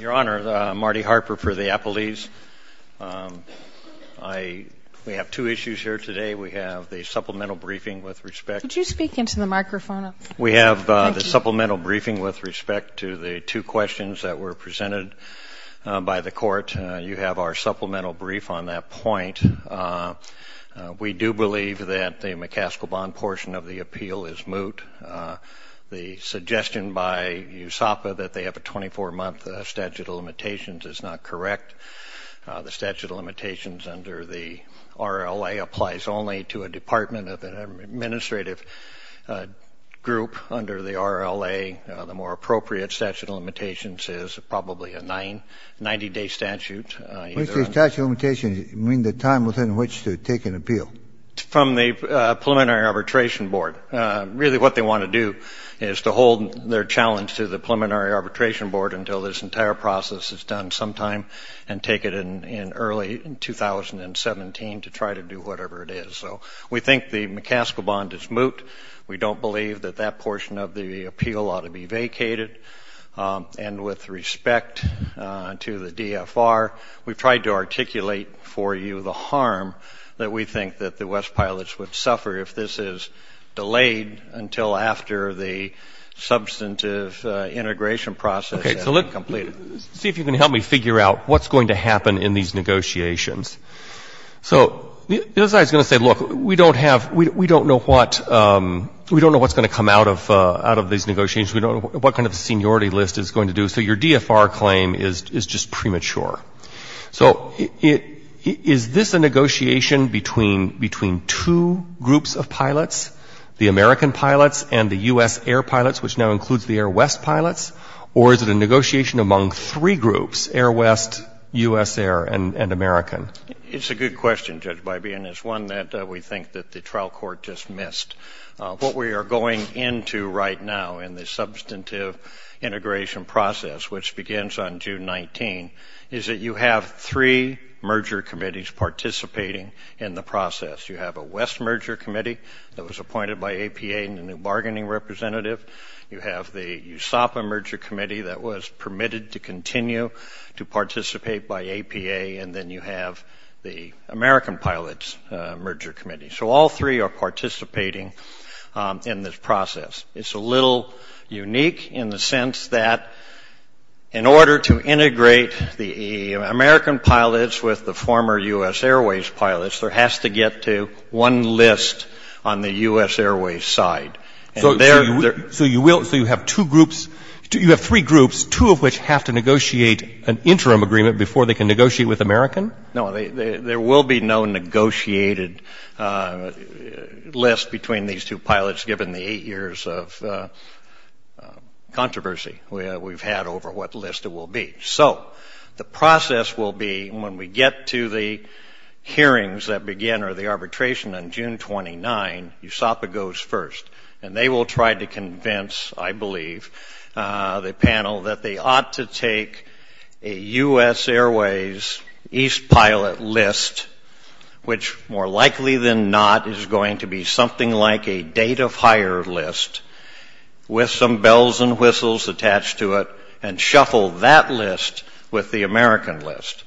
Your Honor, Marty Harper for the Applebee's. We have two issues here today. We have the supplemental briefing with respect... Could you speak into the microphone? We have the supplemental briefing with respect to the two questions that were presented by the court. You have our supplemental brief on that point. We do believe that the McCaskill Bond portion of the appeal is a USAPA that they have a 24-month statute of limitations is not correct. The statute of limitations under the RLA applies only to a department of an administrative group under the RLA. The more appropriate statute of limitations is probably a 90-day statute. What does the statute of limitations mean, the time within which to take an appeal? From the Preliminary Arbitration Board. Really what they want to do is to hold their challenge to the Preliminary Arbitration Board until this entire process is done sometime and take it in in early 2017 to try to do whatever it is. So we think the McCaskill Bond is moot. We don't believe that that portion of the appeal ought to be vacated. And with respect to the DFR, we've tried to articulate for you the harm that we think that the West Pilots would do after the substantive integration process has been completed. See if you can help me figure out what's going to happen in these negotiations. So the other side is going to say, look, we don't have, we don't know what, we don't know what's going to come out of out of these negotiations. We don't know what kind of seniority list is going to do. So your DFR claim is just premature. So is this a negotiation between two groups of pilots, the American Pilots and the U.S. Air Pilots, which now includes the Air West Pilots? Or is it a negotiation among three groups, Air West, U.S. Air, and American? It's a good question, Judge Bybee, and it's one that we think that the trial court just missed. What we are going into right now in the substantive integration process, which begins on June 19, is that you have three merger committees participating in the process. You have a West merger committee that was appointed by APA in the New York Times as a bargaining representative. You have the USAPA merger committee that was permitted to continue to participate by APA. And then you have the American Pilots merger committee. So all three are participating in this process. It's a little unique in the sense that in order to integrate the American Pilots with the former U.S. Airways Pilots, there has to get to one list on the U.S. Airways side. So you have three groups, two of which have to negotiate an interim agreement before they can negotiate with American? No, there will be no negotiated list between these two pilots given the eight years of controversy we've had over what list it will be. So the process will be when we get to the hearings that begin or the arbitration on June 29, USAPA goes first. And they will try to convince, I believe, the panel that they ought to take a U.S. Airways East Pilot list, which more likely than not is going to be something like a date of hire list with some bells and whistles attached to it, and shuffle that list with the American list.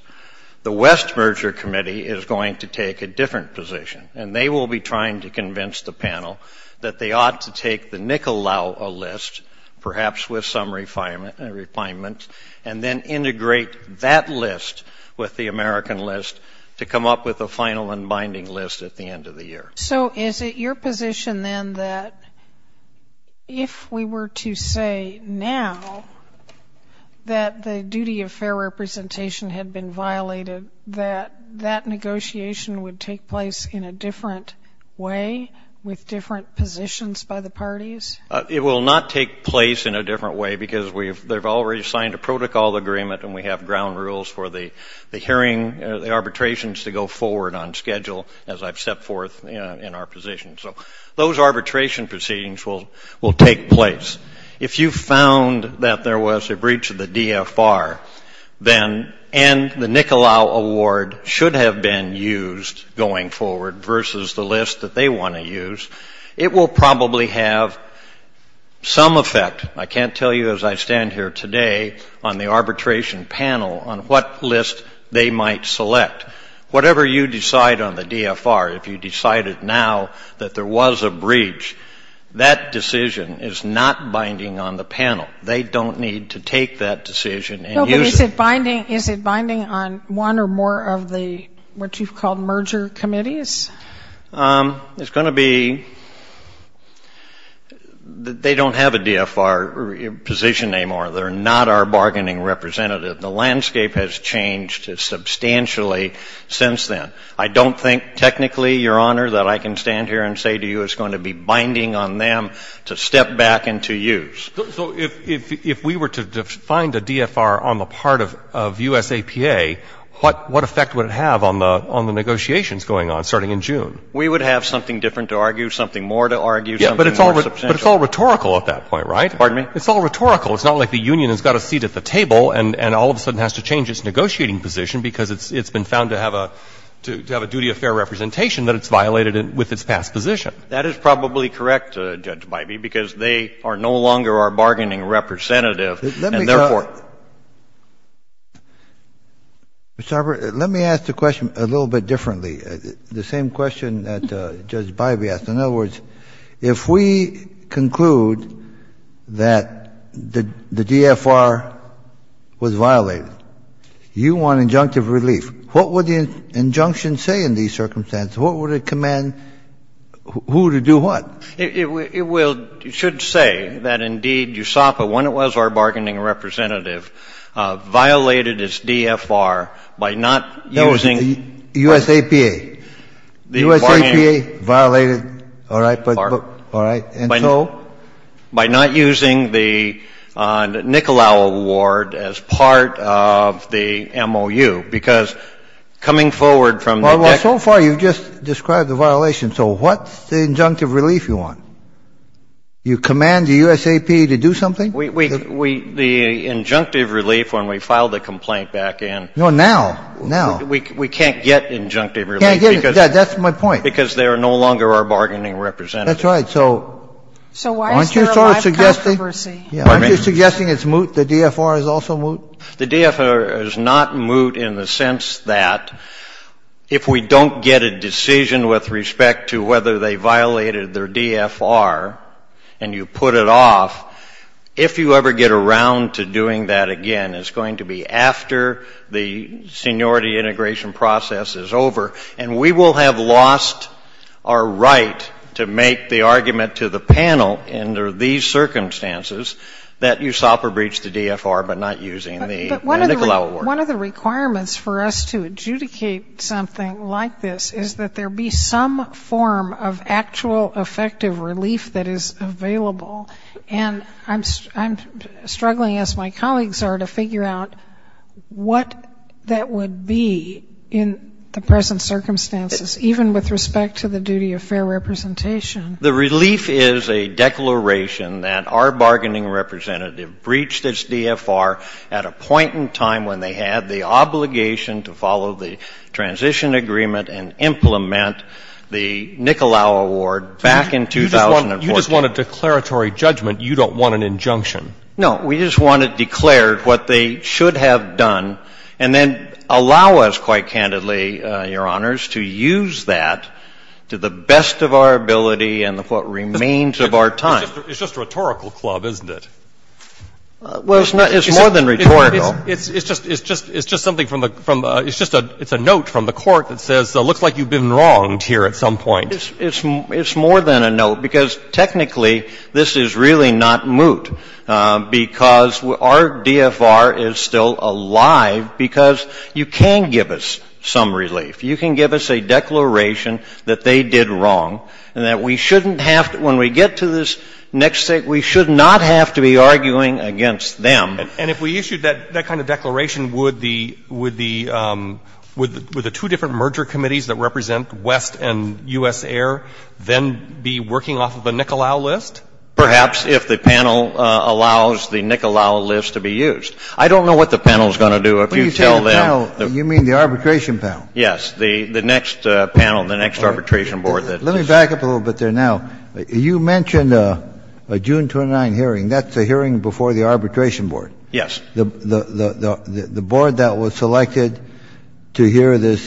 The West merger committee is going to take a different position, and they will be trying to convince the panel that they ought to take the NICOLAO list, perhaps with some refinement, and then integrate that list with the American list to come up with a final and binding list at the end of the year. So is it your position then that if we were to say now that the duty of fair representation had been violated, that that negotiation would take place in a different way, with different positions by the parties? It will not take place in a different way, because they've already signed a protocol agreement, and we have ground rules for the hearing, the arbitrations to go forward on schedule, as I've set forth in our position. So those arbitration proceedings will take place. If you found that there was a breach of the DFR, then, and the NICOLAO award should have been used going forward versus the list that they want to use, it will probably have some effect, I can't tell you as I stand here today, on the arbitration panel on what list they might select. Whatever you decide on the DFR, if you decided now that there was a breach, that decision is not binding on the panel. They don't need to take that decision and use it. And is it binding on one or more of the, what you've called, merger committees? It's going to be, they don't have a DFR position anymore. They're not our bargaining representative. The landscape has changed substantially since then. I don't think technically, Your Honor, that I can stand here and say to you it's going to be binding on them to step back and to use. So if we were to find a DFR on the part of U.S. APA, what effect would it have on the negotiations going on, starting in June? We would have something different to argue, something more to argue, something more substantial. But it's all rhetorical at that point, right? Pardon me? It's all rhetorical. It's not like the union has got a seat at the table and all of a sudden has to change its negotiating position because it's been found to have a duty of fair representation that it's violated with its past position. That is probably correct, Judge Bybee, because they are no longer our bargaining representative, and therefore — Let me — Mr. Harper, let me ask the question a little bit differently, the same question that Judge Bybee asked. In other words, if we conclude that the DFR was violated, you want injunctive relief, what would the injunction say in these terms? It will — it should say that, indeed, USAPA, when it was our bargaining representative, violated its DFR by not using — No, it was the U.S. APA. The U.S. APA violated, all right, and so — By not using the Nikolau award as part of the MOU, because coming forward from the — But so far, you've just described the violation. So what's the injunctive relief you want? You command the USAP to do something? We — the injunctive relief, when we filed the complaint back in — No, now. Now. We can't get injunctive relief because — Can't get it. That's my point. Because they are no longer our bargaining representative. That's right. So — So why is there a live controversy? Aren't you sort of suggesting — yeah, aren't you suggesting it's moot, the DFR is also moot? The DFR is not moot in the sense that if we don't get a decision with respect to whether they violated their DFR and you put it off, if you ever get around to doing that again, it's going to be after the seniority integration process is over, and we will have lost our right to make the argument to the panel under these circumstances that USAPA breached the DFR but not using the — But one of the requirements for us to adjudicate something like this is that there be some form of actual effective relief that is available. And I'm struggling, as my colleagues are, to figure out what that would be in the present circumstances, even with respect to the duty of fair representation. The relief is a declaration that our bargaining representative breached its DFR at a point in time when they had the obligation to follow the transition agreement and implement the Nicolau Award back in 2014. You just want a declaratory judgment. You don't want an injunction. No. We just want it declared what they should have done, and then allow us, what remains of our time. It's just rhetorical club, isn't it? Well, it's more than rhetorical. It's just something from the — it's just a note from the Court that says, it looks like you've been wronged here at some point. It's more than a note, because technically this is really not moot, because our DFR is still alive because you can give us some relief. You can give us a But we shouldn't have — when we get to this next state, we should not have to be arguing against them. And if we issued that kind of declaration, would the — would the two different merger committees that represent West and U.S. Air then be working off of a Nicolau list? Perhaps, if the panel allows the Nicolau list to be used. I don't know what the panel is going to do. If you tell them — When you say the panel, you mean the arbitration panel? Yes. The next panel, the next arbitration board that — Let me back up a little bit there now. You mentioned a June 29 hearing. That's a hearing before the arbitration board. Yes. The board that was selected to hear this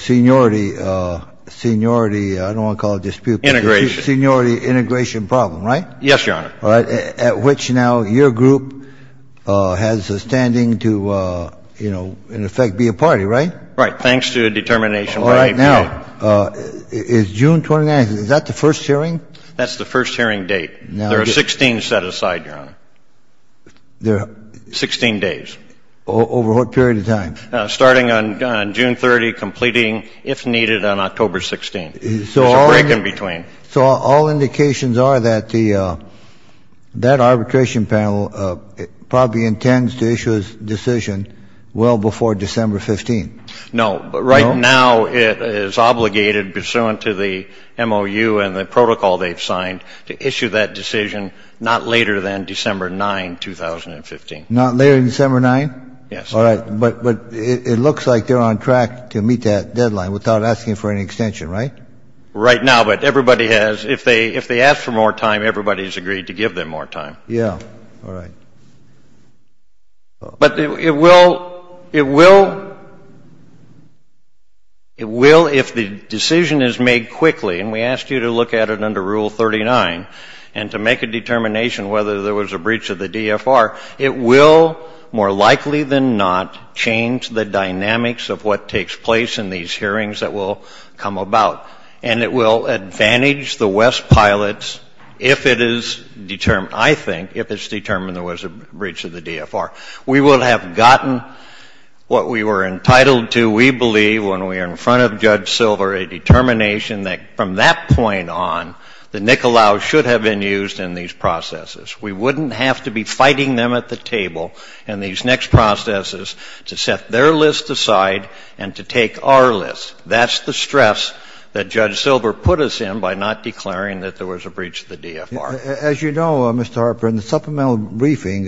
seniority — seniority — I don't want to call it dispute — Integration. Seniority integration problem, right? Yes, Your Honor. At which now your group has a standing to, you know, in effect be a party, right? Right. Thanks to a determination by AP. Now, is June 29 — is that the first hearing? That's the first hearing date. There are 16 set aside, Your Honor. There — Sixteen days. Over what period of time? Starting on June 30, completing, if needed, on October 16. There's a break in between. So all indications are that the — that arbitration panel probably intends to issue its decision well before December 15. No. But right now it is obligated, pursuant to the MOU and the protocol they've signed, to issue that decision not later than December 9, 2015. Not later than December 9? Yes. All right. But it looks like they're on track to meet that deadline without asking for any extension, right? Right now. But everybody has — if they ask for more time, everybody's agreed to give them more time. Yeah. All right. All right. But it will — it will — it will, if the decision is made quickly — and we asked you to look at it under Rule 39 and to make a determination whether there was a breach of the DFR — it will, more likely than not, change the dynamics of what takes place in these hearings that will come about. And it will advantage the West Pilots if it is determined — I think — if it's determined there was a breach of the DFR. We will have gotten what we were entitled to, we believe, when we are in front of Judge Silver, a determination that from that point on, the NICOLAU should have been used in these processes. We wouldn't have to be fighting them at the table in these next processes to set their list aside and to take our list. That's the stress that Judge Silver put us in by not declaring that there was a breach of the DFR. As you know, Mr. Harper, in the supplemental briefing,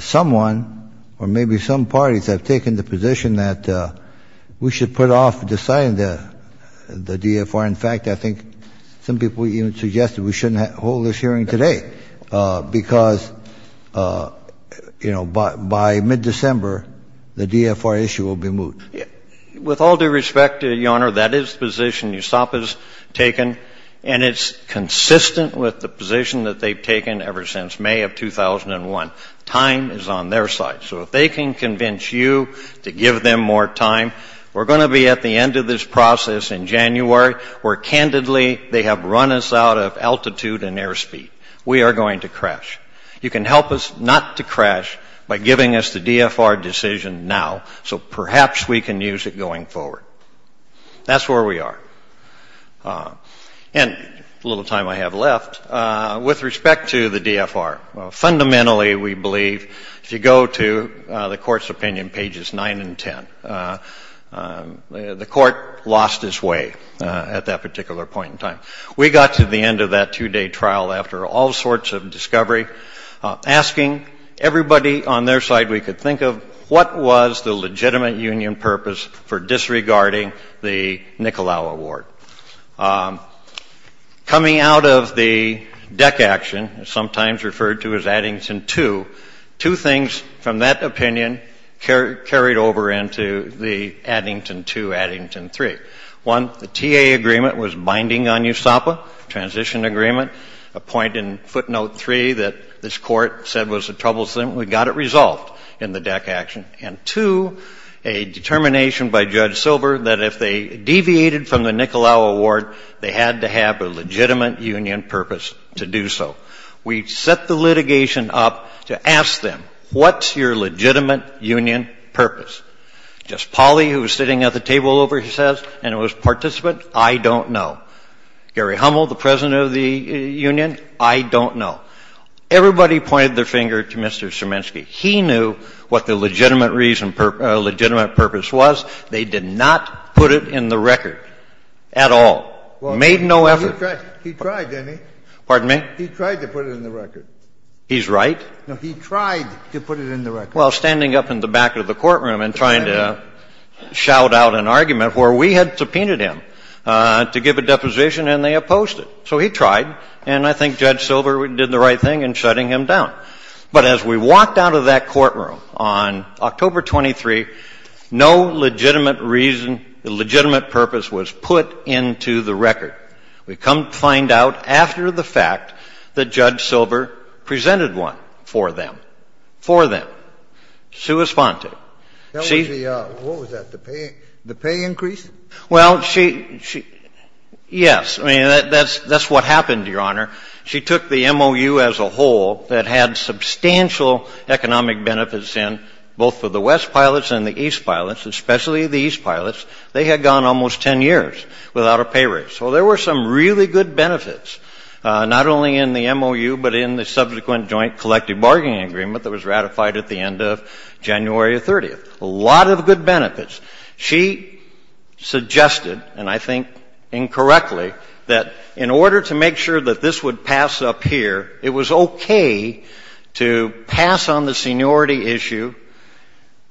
someone or maybe some parties have taken the position that we should put off deciding the DFR. In fact, I think some people even suggested we shouldn't hold this hearing today because, you know, by mid-December, the DFR issue will be moved. With all due respect, Your Honor, that is the position USOP has taken, and it's consistent with the position that they've taken ever since May of 2001. Time is on their side. So if they can convince you to give them more time, we're going to be at the end of this process in January where, candidly, they have run us out of altitude and airspeed. We are going to crash. You can help us not to crash by giving us the DFR decision now, so perhaps we can use it going forward. That's where we are. And a little time I have left. With respect to the DFR, fundamentally, we believe, if you go to the Court's opinion, pages 9 and 10, the Court lost its way at that particular point in time. We got to the end of that two-day trial after all sorts of discovery, asking everybody on their side we could think of, what was the legitimate union purpose for disregarding the Nicolau Award? Coming out of the DEC action, sometimes referred to as Addington 2, two things from that opinion carried over into the Addington 2, Addington 3. One, the TA agreement was binding on USOPA, transition agreement, a point in footnote 3 that this Court said was troublesome. We got it resolved in the DEC action. And two, a determination by Judge Silver that if they deviated from the Nicolau Award, they had to have a legitimate union purpose to do so. We set the litigation up to ask them, what's your legitimate union purpose? Just Polly, who was sitting at the table over his head, and it was participant, I don't know. Gary Hummel, the president of the union, I don't know. Everybody pointed their finger to Mr. Sierminski. He knew what the legitimate purpose was. They did not put it in the record at all, made no effort. Well, he tried, didn't he? Pardon me? He tried to put it in the record. He's right? No, he tried to put it in the record. Well, standing up in the back of the courtroom and trying to shout out an argument where we had subpoenaed him to give a deposition and they opposed it. So he tried, and I think Judge Silver did the right thing in shutting him down. But as we walked out of that courtroom on October 23, no legitimate reason, legitimate purpose was put into the record. We come to find out after the fact that Judge Silver presented one for them. For them. Sui sponte. That was the, what was that, the pay increase? Well, she, yes. I mean, that's what happened, Your Honor. She took the MOU as a whole that had substantial economic benefits in both for the West Pilots and the East Pilots, especially the East Pilots. They had gone almost 10 years without a pay raise. So there were some really good benefits, not only in the MOU, but in the subsequent joint collective bargaining agreement that was ratified at the end of January 30th. A lot of good benefits. She suggested, and I think incorrectly, that in order to make sure that this would pass up here, it was okay to pass on the seniority issue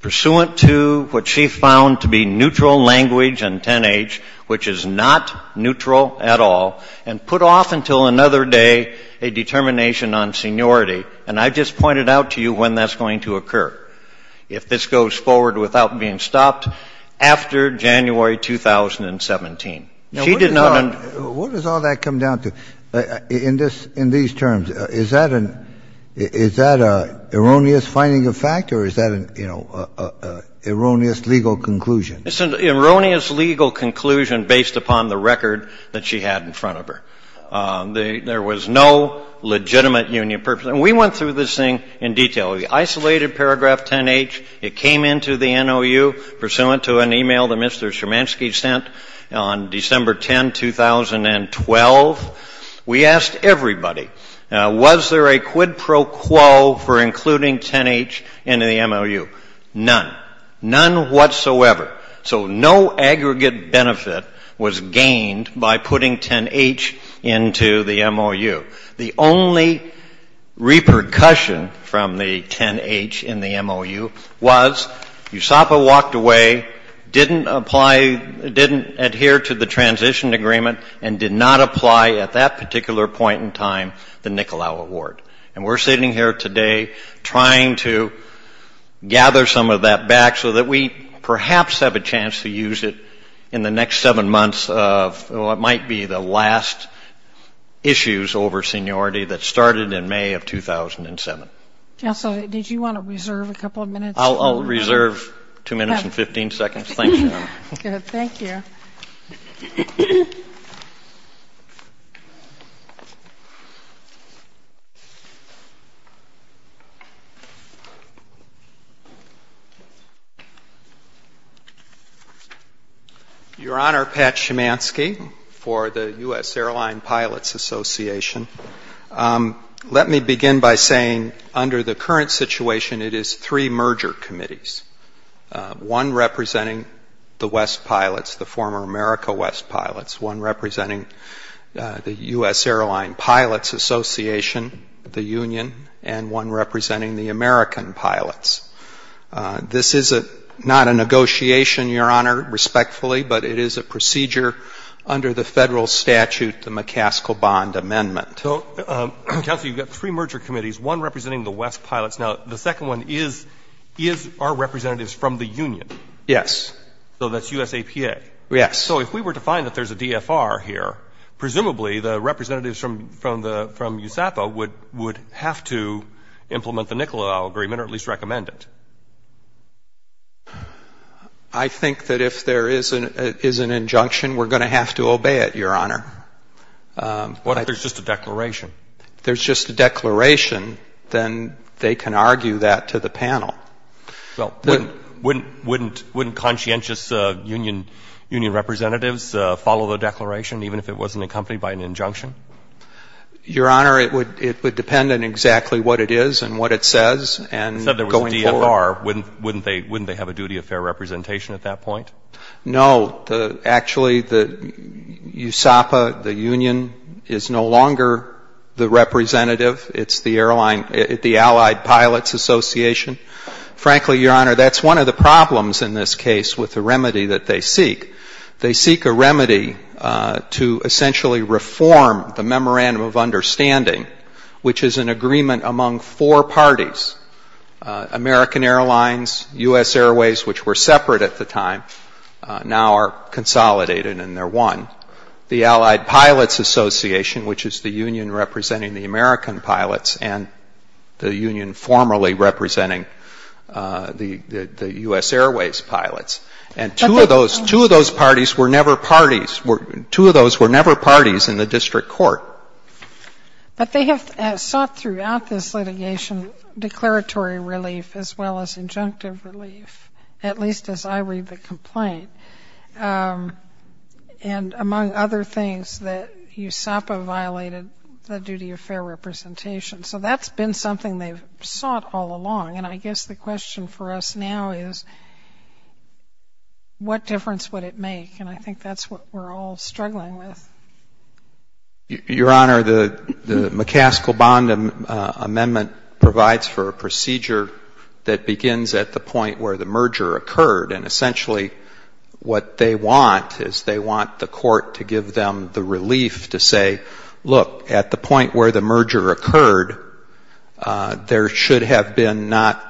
pursuant to what she found to be neutral language and 10-H, which is not neutral at all, and put off until another day a determination on seniority. And I just pointed out to you when that's going to occur. If this goes forward without being stopped after January 2017. She did not under- What does all that come down to in these terms? Is that an erroneous finding of fact, or is that an erroneous legal conclusion? It's an erroneous legal conclusion based upon the record that she had in front of her. There was no legitimate union purpose. And we went through this thing in detail. The isolated paragraph 10-H, it came into the MOU pursuant to an email that Mr. Siermanski sent on December 10, 2012. We asked everybody, was there a quid pro quo for including 10-H into the MOU? None. None whatsoever. So no aggregate benefit was gained by putting 10-H into the MOU. The only repercussion from the 10-H in the MOU was USAPA walked away, didn't apply, didn't adhere to the transition agreement, and did not apply at that particular point in time the Nicolau Award. And we're sitting here today trying to gather some of that back so that we perhaps have a chance to use it in the next seven months of what might be the last issues over seniority that started in May of 2007. Counsel, did you want to reserve a couple of minutes? I'll reserve two minutes and 15 seconds. Thank you. Good. Thank you. Your Honor, Pat Siermanski for the U.S. Airline Pilots Association. Let me begin by saying under the current situation, it is three merger committees, one representing the West pilots, the former America West pilots, one representing the U.S. Airline Pilots Association, the Union, and one representing the American pilots. This is not a negotiation, Your Honor, respectfully, but it is a procedure under the federal statute, the McCaskill Bond Amendment. So, Counsel, you've got three merger committees, one representing the West pilots. Now, the second one is our representatives from the Union. Yes. So that's USAPA. Yes. So if we were to find that there's a DFR here, presumably the representatives from USAPA would have to implement the NICOLA agreement or at least recommend it. I think that if there is an injunction, we're going to have to obey it, Your Honor. What if there's just a declaration? If there's just a declaration, then they can argue that to the panel. Well, wouldn't conscientious Union representatives follow the declaration, even if it wasn't accompanied by an injunction? Your Honor, it would depend on exactly what it is and what it says and going forward. You said there was a DFR. Wouldn't they have a duty of fair representation at that point? No. Actually, USAPA, the Union, is no longer the representative. It's the Allied Pilots Association. Frankly, Your Honor, that's one of the problems in this case with the remedy that they seek. They seek a remedy to essentially reform the Memorandum of Understanding, which is an agreement among four parties. American Airlines, US Airways, which were separate at the time, now are consolidated and they're one. The Allied Pilots Association, which is the Union representing the American pilots and the Union formally representing the US Airways pilots. And two of those parties were never parties in the district court. But they have sought throughout this litigation declaratory relief as well as injunctive relief, at least as I read the complaint. And among other things, that USAPA violated the duty of fair representation. So that's been something they've sought all along. And I guess the question for us now is, what difference would it make? And I think that's what we're all struggling with. Your Honor, the McCaskill-Bond Amendment provides for a procedure that begins at the point where the merger occurred. And essentially, what they want is they want the court to give them the relief to say, look, at the point where the merger occurred, there should have been not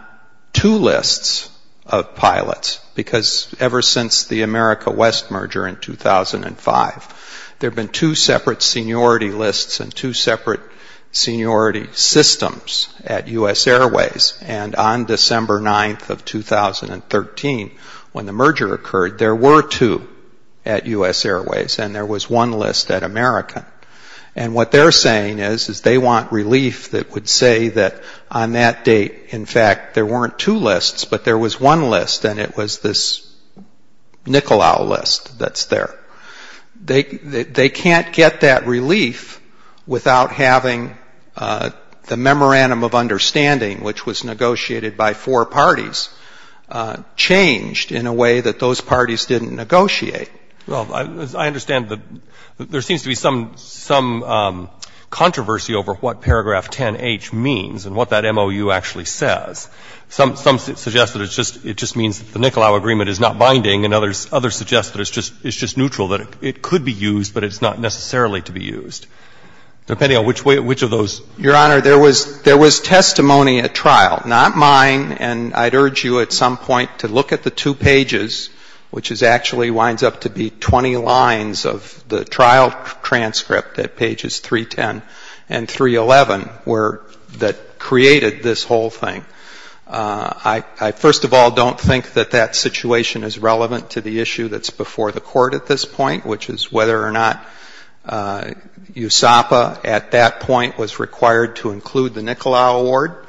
two lists of pilots. Because ever since the America West merger in 2005, there have been two separate seniority lists and two separate seniority systems at US Airways. And on December 9th of 2013, when the merger occurred, there were two at US Airways and there was one list at American. And what they're saying is, is they want relief that would say that on that date, in fact, there weren't two lists, but there was one list. And it was this Nicolau list that's there. They can't get that relief without having the Memorandum of Understanding, which was negotiated by four parties, changed in a way that those parties didn't negotiate. Well, I understand that there seems to be some controversy over what paragraph 10H means and what that MOU actually says. Some suggest that it just means that the Nicolau agreement is not binding, and others suggest that it's just neutral, that it could be used, but it's not necessarily to be used, depending on which of those. Your Honor, there was testimony at trial, not mine, and I'd urge you at some point to look at the two pages, which actually winds up to be 20 lines of the trial transcript at pages 310 and 311 that created this whole thing. I first of all don't think that that situation is relevant to the issue that's before the Court at this point, which is whether or not USAPA at that point was required to include the Nicolau award.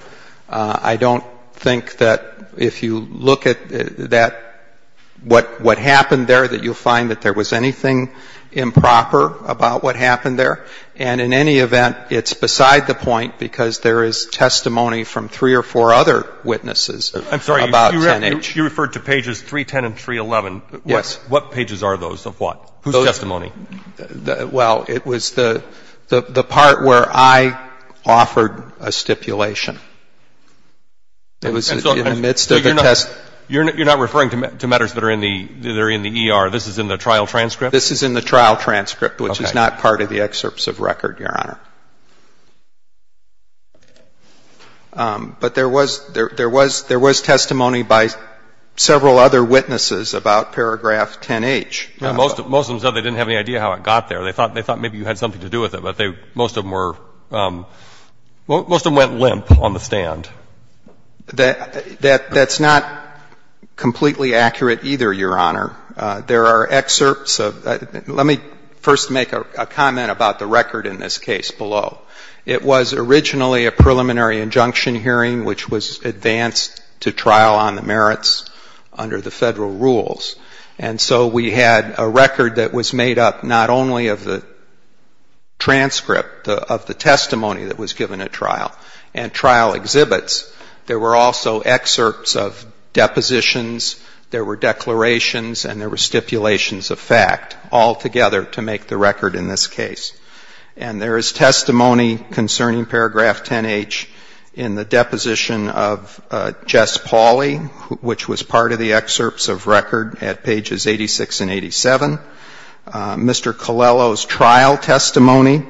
I don't think that if you look at that, what happened there, that you'll find that there was anything improper about what happened there. And in any event, it's beside the point because there is testimony from three or four other witnesses about 10H. I'm sorry. You referred to pages 310 and 311. Yes. What pages are those of what? Whose testimony? Well, it was the part where I offered a stipulation. It was in the midst of the test. You're not referring to matters that are in the ER. This is in the trial transcript? This is in the trial transcript, which is not part of the excerpts of record, Your Honor. But there was testimony by several other witnesses about paragraph 10H. Most of them said they didn't have any idea how it got there. They thought maybe you had something to do with it. Most of them went limp on the stand. That's not completely accurate either, Your Honor. Let me first make a comment about the record in this case below. It was originally a preliminary injunction hearing, which was advanced to trial on the merits under the federal rules. And so we had a record that was made up not only of the transcript of the testimony that was given at trial and trial exhibits, there were also excerpts of depositions, there were declarations, and there were stipulations of fact all together to make the record in this case. And there is testimony concerning paragraph 10H in the deposition of Jess Pauley, which was part of the excerpts of record at pages 86 and 87, Mr. Colello's trial testimony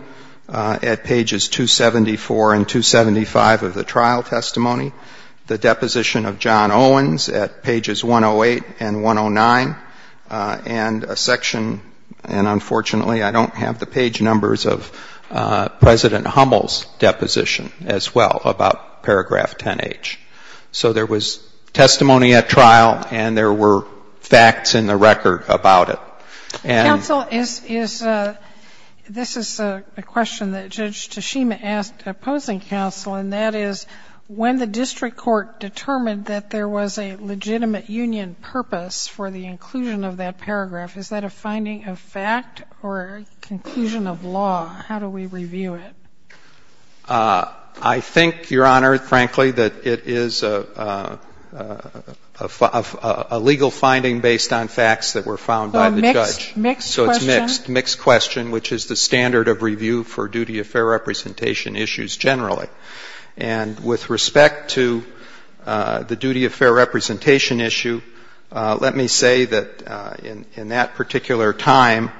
at pages 274 and 275 of the trial testimony, the deposition of John Owens at pages 108 and 109, and a section, and unfortunately I don't have the page numbers of President Hummel's deposition as well about paragraph 10H. So there was testimony at trial and there were facts in the record about it. And the counsel is, this is a question that Judge Tashima asked opposing counsel, and that is when the district court determined that there was a legitimate union purpose for the inclusion of that paragraph, is that a finding of fact or a conclusion of law? How do we review it? I think, Your Honor, frankly, that it is a legal finding based on facts that were found by the judge. So it's mixed. Mixed question, which is the standard of review for duty of fair representation issues generally. And with respect to the duty of fair representation issue, let me say that in that particular time,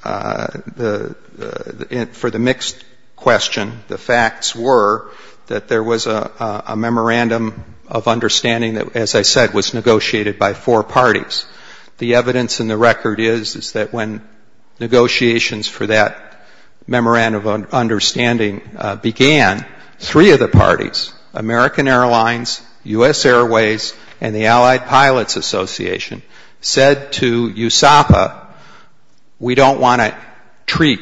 for the mixed question, the facts were that there was a memorandum of understanding that, as I said, was negotiated by four parties. The evidence in the record is that when negotiations for that memorandum of understanding began, three of the parties, American Airlines, U.S. Airways, and the We don't want to treat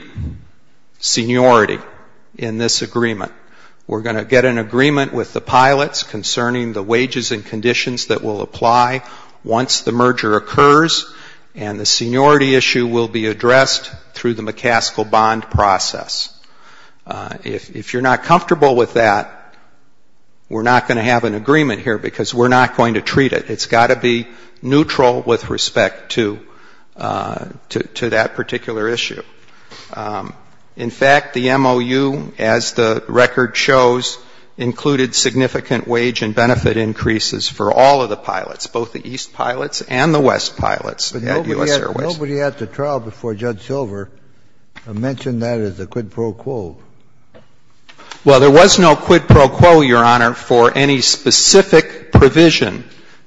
seniority in this agreement. We're going to get an agreement with the pilots concerning the wages and conditions that will apply once the merger occurs, and the seniority issue will be addressed through the McCaskill bond process. If you're not comfortable with that, we're not going to have an agreement here because we're not going to treat it. It's got to be neutral with respect to that particular issue. In fact, the MOU, as the record shows, included significant wage and benefit increases for all of the pilots, both the East pilots and the West pilots at U.S. Airways. Nobody at the trial before Judge Silver mentioned that as a quid pro quo. Well, there was no quid pro quo, Your Honor, for any specific provision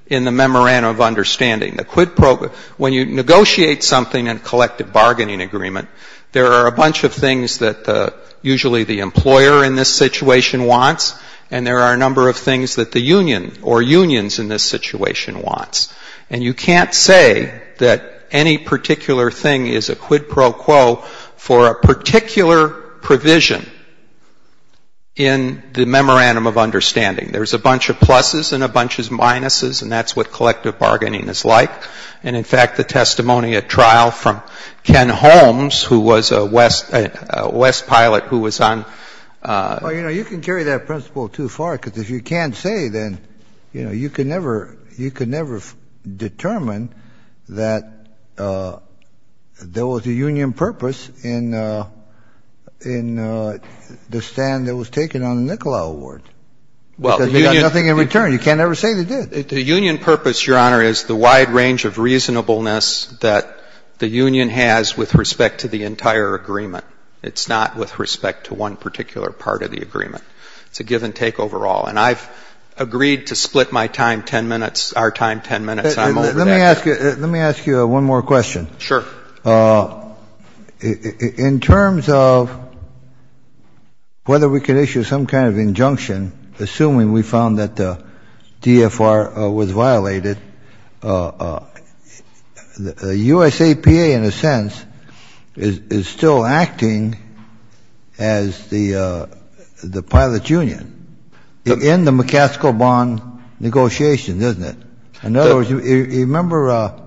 in the memorandum of understanding. The quid pro quo, when you negotiate something in a collective bargaining agreement, there are a bunch of things that usually the employer in this situation wants, and there are a number of things that the union or unions in this situation wants. And you can't say that any particular thing is a quid pro quo for a particular provision in the memorandum of understanding. There's a bunch of pluses and a bunch of minuses, and that's what collective bargaining is like. And, in fact, the testimony at trial from Ken Holmes, who was a West pilot who was on the trial. Well, you know, you can carry that principle too far, because if you can't say, then, you know, you can never determine that there was a union purpose in the stand that was taken on the Nikola Award, because they got nothing in return. You can't ever say they did. The union purpose, Your Honor, is the wide range of reasonableness that the union has with respect to the entire agreement. It's not with respect to one particular part of the agreement. It's a give and take overall. And I've agreed to split my time 10 minutes, our time 10 minutes. I'm over that. Let me ask you one more question. Sure. In terms of whether we could issue some kind of injunction, assuming we found that the DFR was violated, the USAPA, in a sense, is still acting as the pilot union in the McCaskill bond negotiations, isn't it? In other words, you remember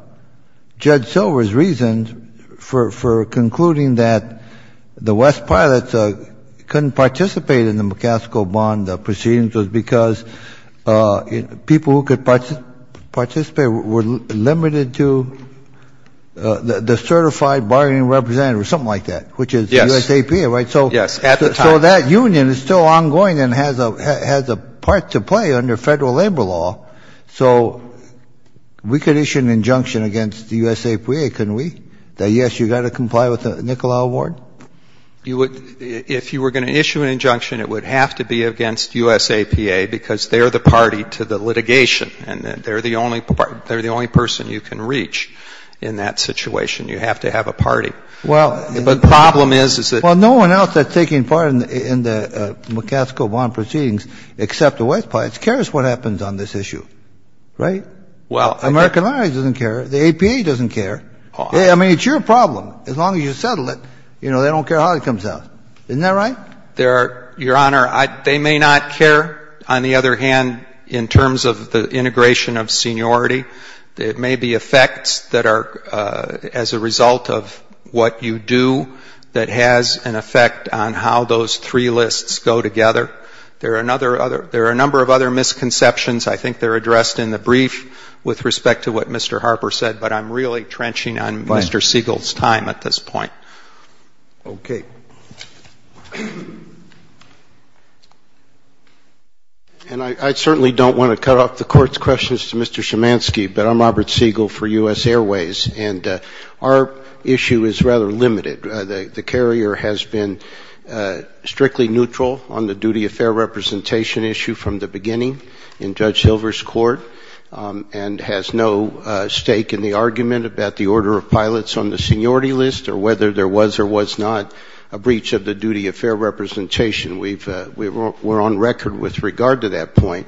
Judge Silver's reasons for concluding that the West pilots couldn't participate in the McCaskill bond proceedings was because people who could participate were limited to the certified bargaining representative, or something like that, which is USAPA, right? Yes, at the time. So that union is still ongoing and has a part to play under federal labor law. So we could issue an injunction against the USAPA, couldn't we, that, yes, you've got to comply with the Nicolau Award? You would — if you were going to issue an injunction, it would have to be against USAPA because they're the party to the litigation, and they're the only — they're the only person you can reach in that situation. You have to have a party. Well — The problem is, is that — Well, no one else that's taking part in the — in the McCaskill bond proceedings except the West pilots cares what happens on this issue, right? Well — American Law doesn't care. The APA doesn't care. I mean, it's your problem. As long as you settle it, you know, they don't care how it comes out. Isn't that right? There are — Your Honor, I — they may not care, on the other hand, in terms of the integration of seniority. It may be effects that are as a result of what you do that has an effect on how those three lists go together. There are another — there are a number of other misconceptions. I think they're addressed in the brief with respect to what Mr. Harper said, but I'm really trenching on Mr. Siegel's time at this point. Okay. And I certainly don't want to cut off the Court's questions to Mr. Szymanski, but I'm Robert Siegel for U.S. Airways, and our issue is rather limited. The carrier has been strictly neutral on the duty of fair representation issue from the beginning in Judge Silver's court and has no stake in the argument about the order of pilots on the seniority list or whether there was or was not a breach of the duty of fair representation. We've — we're on record with regard to that point.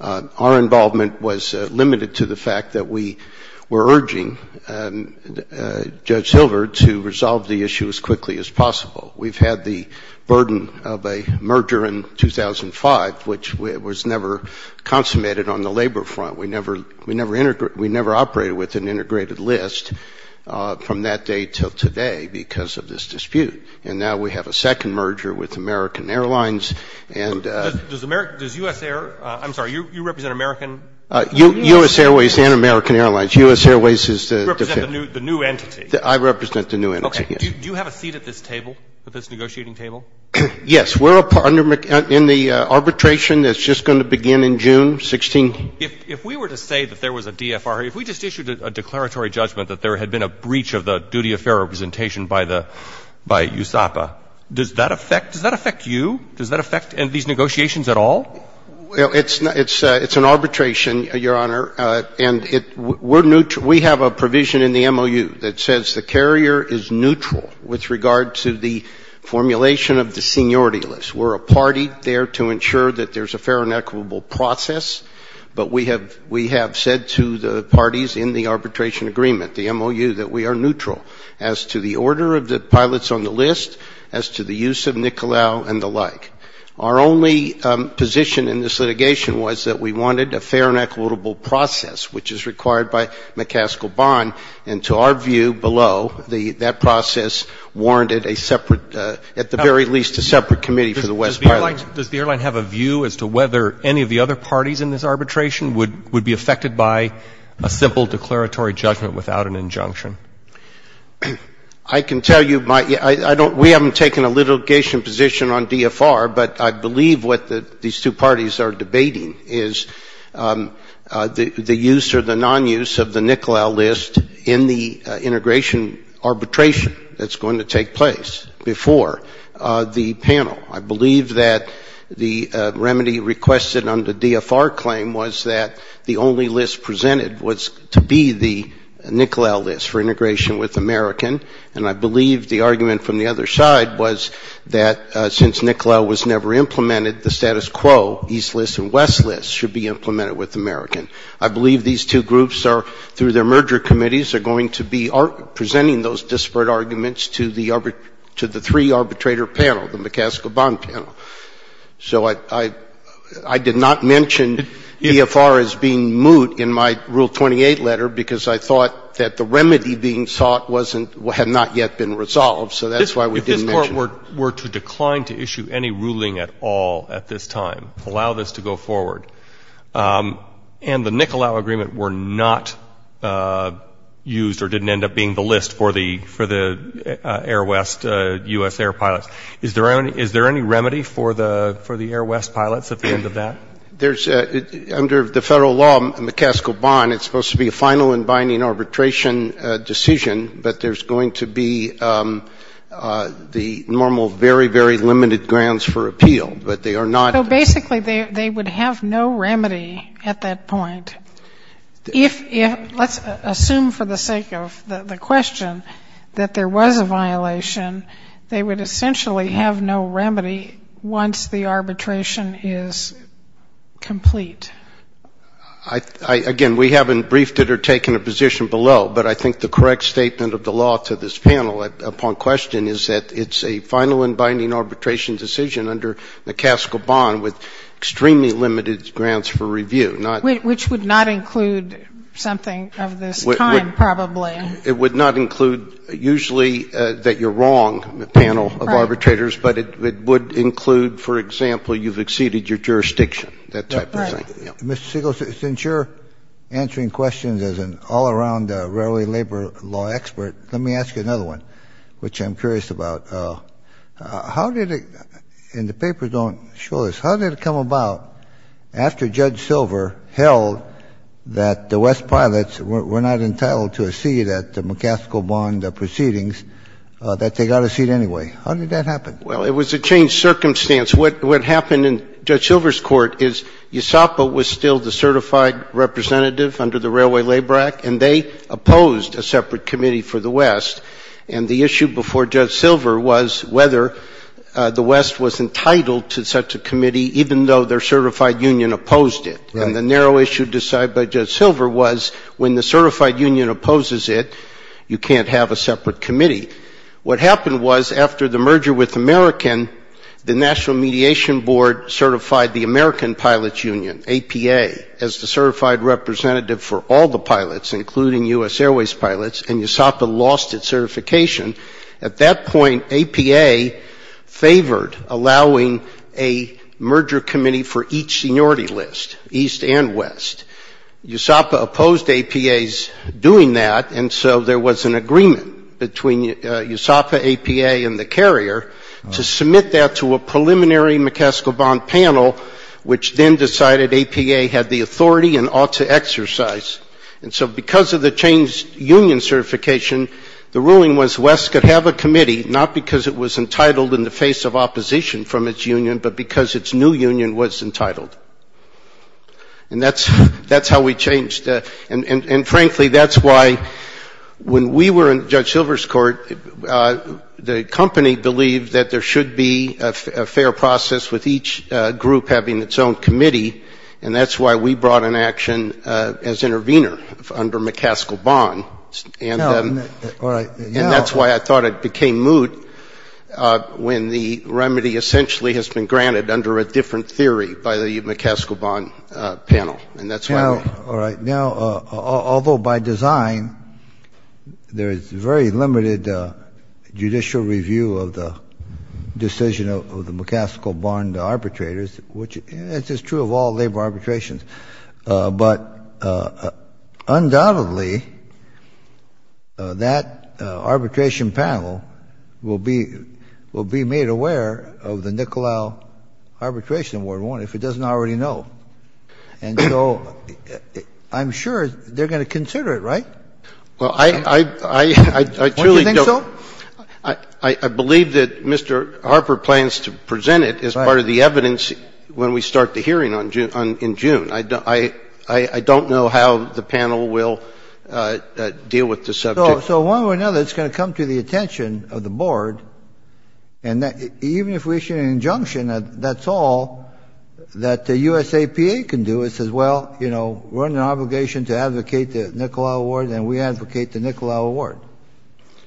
Our involvement was limited to the fact that we were urging Judge Silver to resolve the issue as quickly as possible. We've had the burden of a merger in 2005, which was never consummated on the labor front. We never — we never integrated — we never operated with an integrated list from that day till today because of this dispute. And now we have a second merger with American Airlines, and — Does — does American — does U.S. Air — I'm sorry, you represent American — U.S. Airways and American Airlines. U.S. Airways is the — You represent the new entity. I represent the new entity, yes. Do you have a seat at this table, at this negotiating table? Yes. We're under — in the arbitration that's just going to begin in June 16th. If we were to say that there was a DFR, if we just issued a declaratory judgment that there had been a breach of the duty of fair representation by the — by USAPA, does that affect — does that affect you? Does that affect these negotiations at all? Well, it's — it's an arbitration, Your Honor, and it — we're — we have a provision in the MOU that says the carrier is neutral with regard to the formulation of the seniority list. We're a party there to ensure that there's a fair and equitable process, but we have — we have said to the parties in the arbitration agreement, the MOU, that we are neutral as to the order of the pilots on the list, as to the use of NICOLAO and the like. Our only position in this litigation was that we wanted a fair and equitable process, which is required by McCaskill-Bahn, and to our view below, the — that process warranted a separate — at the very least, a separate committee for the West pilots. Does the airline have a view as to whether any of the other parties in this arbitration would — would be affected by a simple declaratory judgment without an injunction? I can tell you my — I don't — we haven't taken a litigation position on DFR, but I believe the argument from the other side was that since NICOLAO was never implemented, the status quo, East list and West list, should be implemented with American. I believe these two groups are, through their merger committees, are going to be presenting those disparate arguments to the — to the three arbitrator panel, the McCaskill-Bahn panel. So I — I did not mention DFR as being moot in my Rule 28 letter because I thought that the remedy being sought wasn't — had not yet been resolved, so that's why we didn't mention it. If this Court were to decline to issue any ruling at all at this time, allow this to go forward, and the NICOLAO agreement were not used or didn't end up being the list for the — for the Air West — U.S. Air pilots, is there any — is there any remedy for the — for the Air West pilots at the end of that? There's — under the federal law, McCaskill-Bahn, it's supposed to be a final and binding arbitration decision, but there's going to be the normal very, very limited grounds for appeal, but they are not — So basically, they would have no remedy at that point. If — let's assume for the sake of the question that there was a violation, they would essentially have no remedy once the arbitration is complete. Again, we haven't briefed it or taken a position below, but I think the correct statement of the law to this panel upon question is that it's a final and binding arbitration decision under McCaskill-Bahn with extremely limited grounds for review, not — Which would not include something of this kind, probably. It would not include, usually, that you're wrong, the panel of arbitrators, but it would include, for example, you've exceeded your jurisdiction, that type of thing. Right. Mr. Siegel, since you're answering questions as an all-around rarely labor law expert, let me ask you another one, which I'm curious about. How did it — and the papers don't show this. How did it come about, after Judge Silver held that the West Pilots were not entitled to a seat at the McCaskill-Bahn proceedings, that they got a seat anyway? How did that happen? Well, it was a changed circumstance. What happened in Judge Silver's court is USAPA was still the certified representative under the Railway Labor Act, and they opposed a separate committee for the West. And the issue before Judge Silver was whether the West was entitled to such a committee, even though their certified union opposed it. Right. And the narrow issue decided by Judge Silver was, when the certified union opposes it, you can't have a separate committee. What happened was, after the merger with American, the National Mediation Board certified the American Pilots Union, APA, as the certified representative for all the pilots, including U.S. Airways pilots, and USAPA lost its certification, at that point APA favored allowing a merger committee for each seniority list, East and West. USAPA opposed APA's doing that, and so there was an agreement between USAPA, APA, and the carrier to submit that to a preliminary McCaskill-Bond panel, which then decided APA had the authority and ought to exercise. And so because of the changed union certification, the ruling was West could have a committee, not because it was entitled in the face of opposition from its union, but because its new union was entitled. And that's how we changed. And frankly, that's why when we were in Judge Silver's court, the company believed that there should be a fair process with each group having its own committee, and that's why we brought an action as intervener under McCaskill-Bond. And that's why I thought it became moot when the remedy essentially has been granted under a different theory by the McCaskill-Bond panel. All right. Now, although by design, there is very limited judicial review of the decision of the McCaskill-Bond arbitrators, which is true of all labor arbitrations, but undoubtedly that arbitration panel will be made aware of the Nicolau Arbitration Award, if it doesn't already know. And so I'm sure they're going to consider it, right? Well, I truly don't. Don't you think so? I believe that Mr. Harper plans to present it as part of the evidence when we start the hearing in June. I don't know how the panel will deal with the subject. So one way or another, it's going to come to the attention of the board, and even if we issue an injunction, that's all that the USAPA can do. It says, well, you know, we're under obligation to advocate the Nicolau Award, and we advocate the Nicolau Award.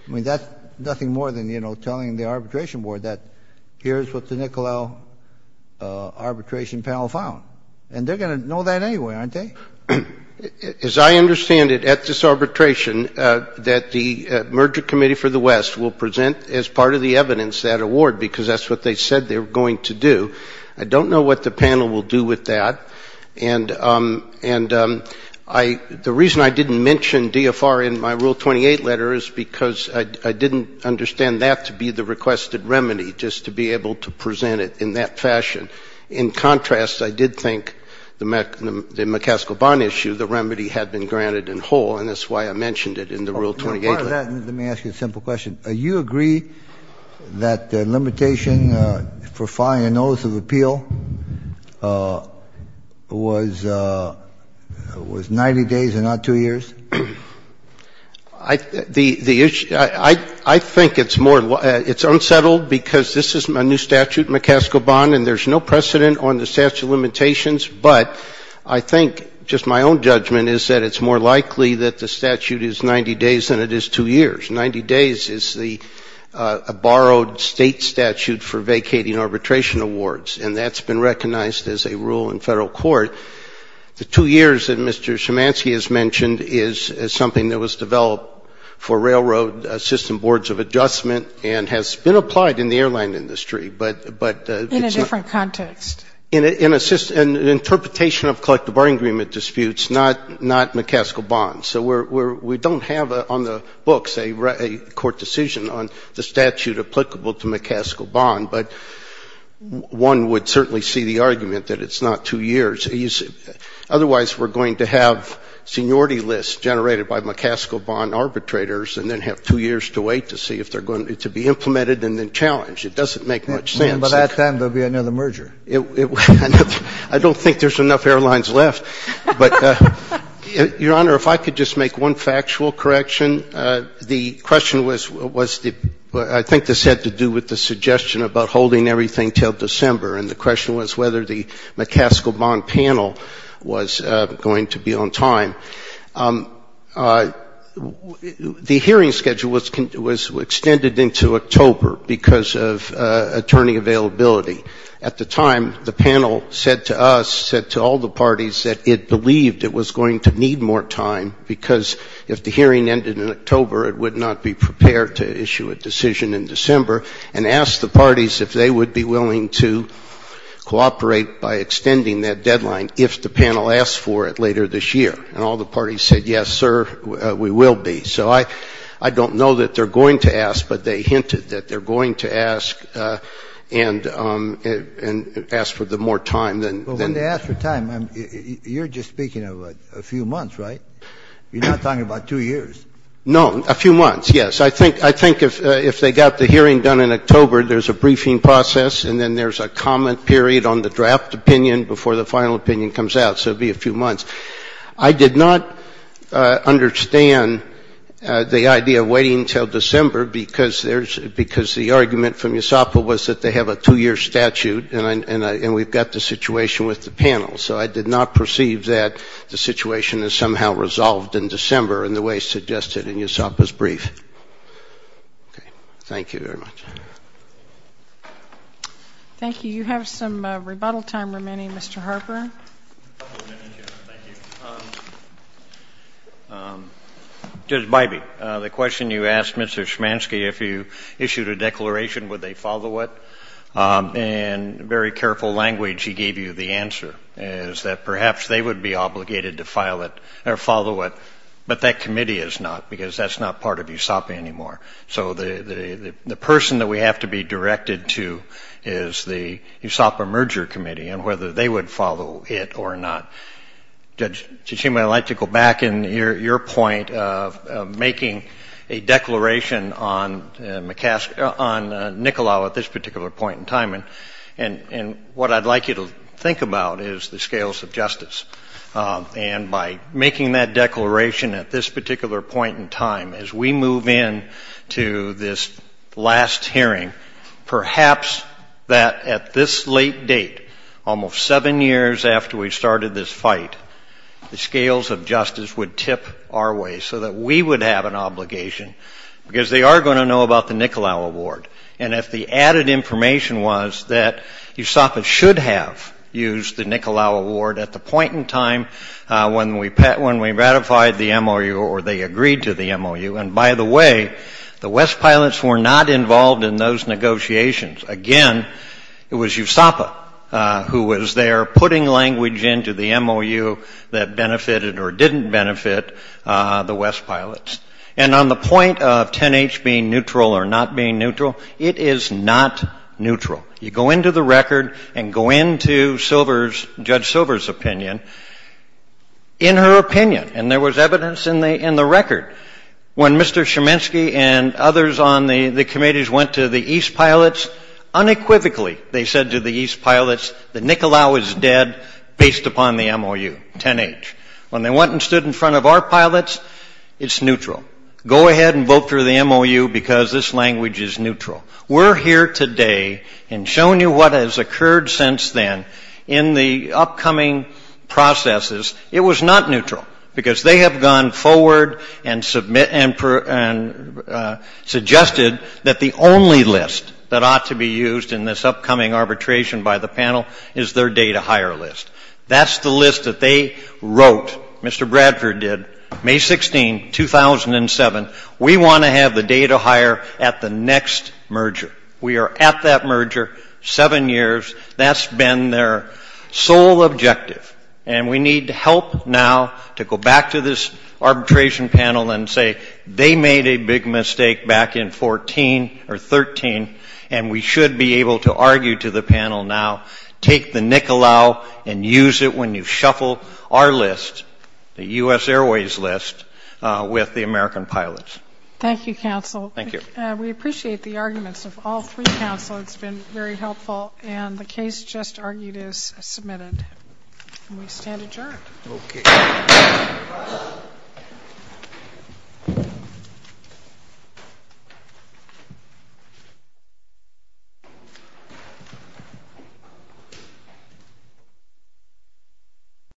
I mean, that's nothing more than, you know, telling the arbitration board that here's what the Nicolau Arbitration Panel found. And they're going to know that anyway, aren't they? As I understand it, at this arbitration, that the Merger Committee for the West will present as part of the evidence that award, because that's what they said they were going to do. I don't know what the panel will do with that. And the reason I didn't mention DFR in my Rule 28 letter is because I didn't understand that to be the requested remedy, just to be able to present it in that fashion. In contrast, I did think the McCaskill-Bahn issue, the remedy had been granted later. Let me ask you a simple question. Do you agree that the limitation for filing a notice of appeal was 90 days and not two years? I think it's more, it's unsettled because this is a new statute, McCaskill-Bahn, and there's no precedent on the statute of limitations. But I think, just my own judgment is that it's more likely that the statute is 90 days than it is two years. Ninety days is the borrowed state statute for vacating arbitration awards, and that's been recognized as a rule in federal court. The two years that Mr. Schimansky has mentioned is something that was developed for railroad system boards of adjustment and has been applied in the airline industry, but it's not In a different context. In an interpretation of collective bargaining agreement disputes, not McCaskill-Bahn. So we don't have on the books a court decision on the statute applicable to McCaskill-Bahn. But one would certainly see the argument that it's not two years. Otherwise, we're going to have seniority lists generated by McCaskill-Bahn arbitrators and then have two years to wait to see if they're going to be implemented and then challenged. It doesn't make much sense. But at that time, there will be another merger. I don't think there's enough airlines left. But, Your Honor, if I could just make one factual correction. The question was, I think this had to do with the suggestion about holding everything until December. And the question was whether the McCaskill-Bahn panel was going to be on time. The hearing schedule was extended into October because of attorney availability. At the time, the panel said to us, said to all the parties, that it believed it was going to need more time because if the hearing ended in October, it would not be prepared to issue a decision in December. And asked the parties if they would be willing to cooperate by extending that deadline if the panel asked for it later this year. And all the parties said, yes, sir, we will be. So I don't know that they're going to ask, but they hinted that they're going to ask. And ask for the more time than. But when they ask for time, you're just speaking of a few months, right? You're not talking about two years. No, a few months, yes. I think if they got the hearing done in October, there's a briefing process, and then there's a comment period on the draft opinion before the final opinion comes out. So it'd be a few months. I did not understand the idea of waiting until December because there's, because the argument from USAPA was that they have a two-year statute and we've got the situation with the panel. So I did not perceive that the situation is somehow resolved in December in the way suggested in USAPA's brief. Okay. Thank you very much. Thank you. You have some rebuttal time remaining. Mr. Harper? A couple of minutes, Your Honor. Thank you. Judge Bybee, the question you asked Mr. Schmansky, if you issued a declaration, would they follow it? In very careful language, he gave you the answer, is that perhaps they would be obligated to file it or follow it, but that committee is not because that's not part of USAPA anymore. So the person that we have to be directed to is the USAPA merger committee and whether they would follow it or not. Judge Tsuchiyama, I'd like to go back in your point of making a declaration on Nicolau at this particular point in time, and what I'd like you to think about is the scales of justice. And by making that declaration at this particular point in time, as we move in to this last hearing, perhaps that at this late date, almost seven years after we started this fight, the scales of justice would tip our way so that we would have an obligation because they are going to know about the Nicolau Award. And if the added information was that USAPA should have used the Nicolau Award at the point in time when we ratified the MOU or they agreed to the MOU. And by the way, the West Pilots were not involved in those negotiations. Again, it was USAPA who was there putting language into the MOU that benefited or didn't benefit the West Pilots. And on the point of 10H being neutral or not being neutral, it is not neutral. You go into the record and go into Judge Silver's opinion. And in her opinion, and there was evidence in the record, when Mr. Cheminsky and others on the committees went to the East Pilots, unequivocally they said to the East Pilots that Nicolau is dead based upon the MOU, 10H. When they went and stood in front of our pilots, it's neutral. Go ahead and vote for the MOU because this language is neutral. We're here today and showing you what has occurred since then in the upcoming processes. It was not neutral because they have gone forward and suggested that the only list that ought to be used in this upcoming arbitration by the panel is their day-to-hire list. That's the list that they wrote, Mr. Bradford did, May 16, 2007. We want to have the day-to-hire at the next merger. We are at that merger, seven years. That's been their sole objective. And we need help now to go back to this arbitration panel and say they made a big mistake back in 14 or 13, and we should be able to argue to the panel now, take the Nicolau and use it when you shuffle our list, the U.S. Airways list, with the American pilots. Thank you, counsel. Thank you. We appreciate the arguments of all three counsel. It's been very helpful, and the case just argued is submitted, and we stand adjourned.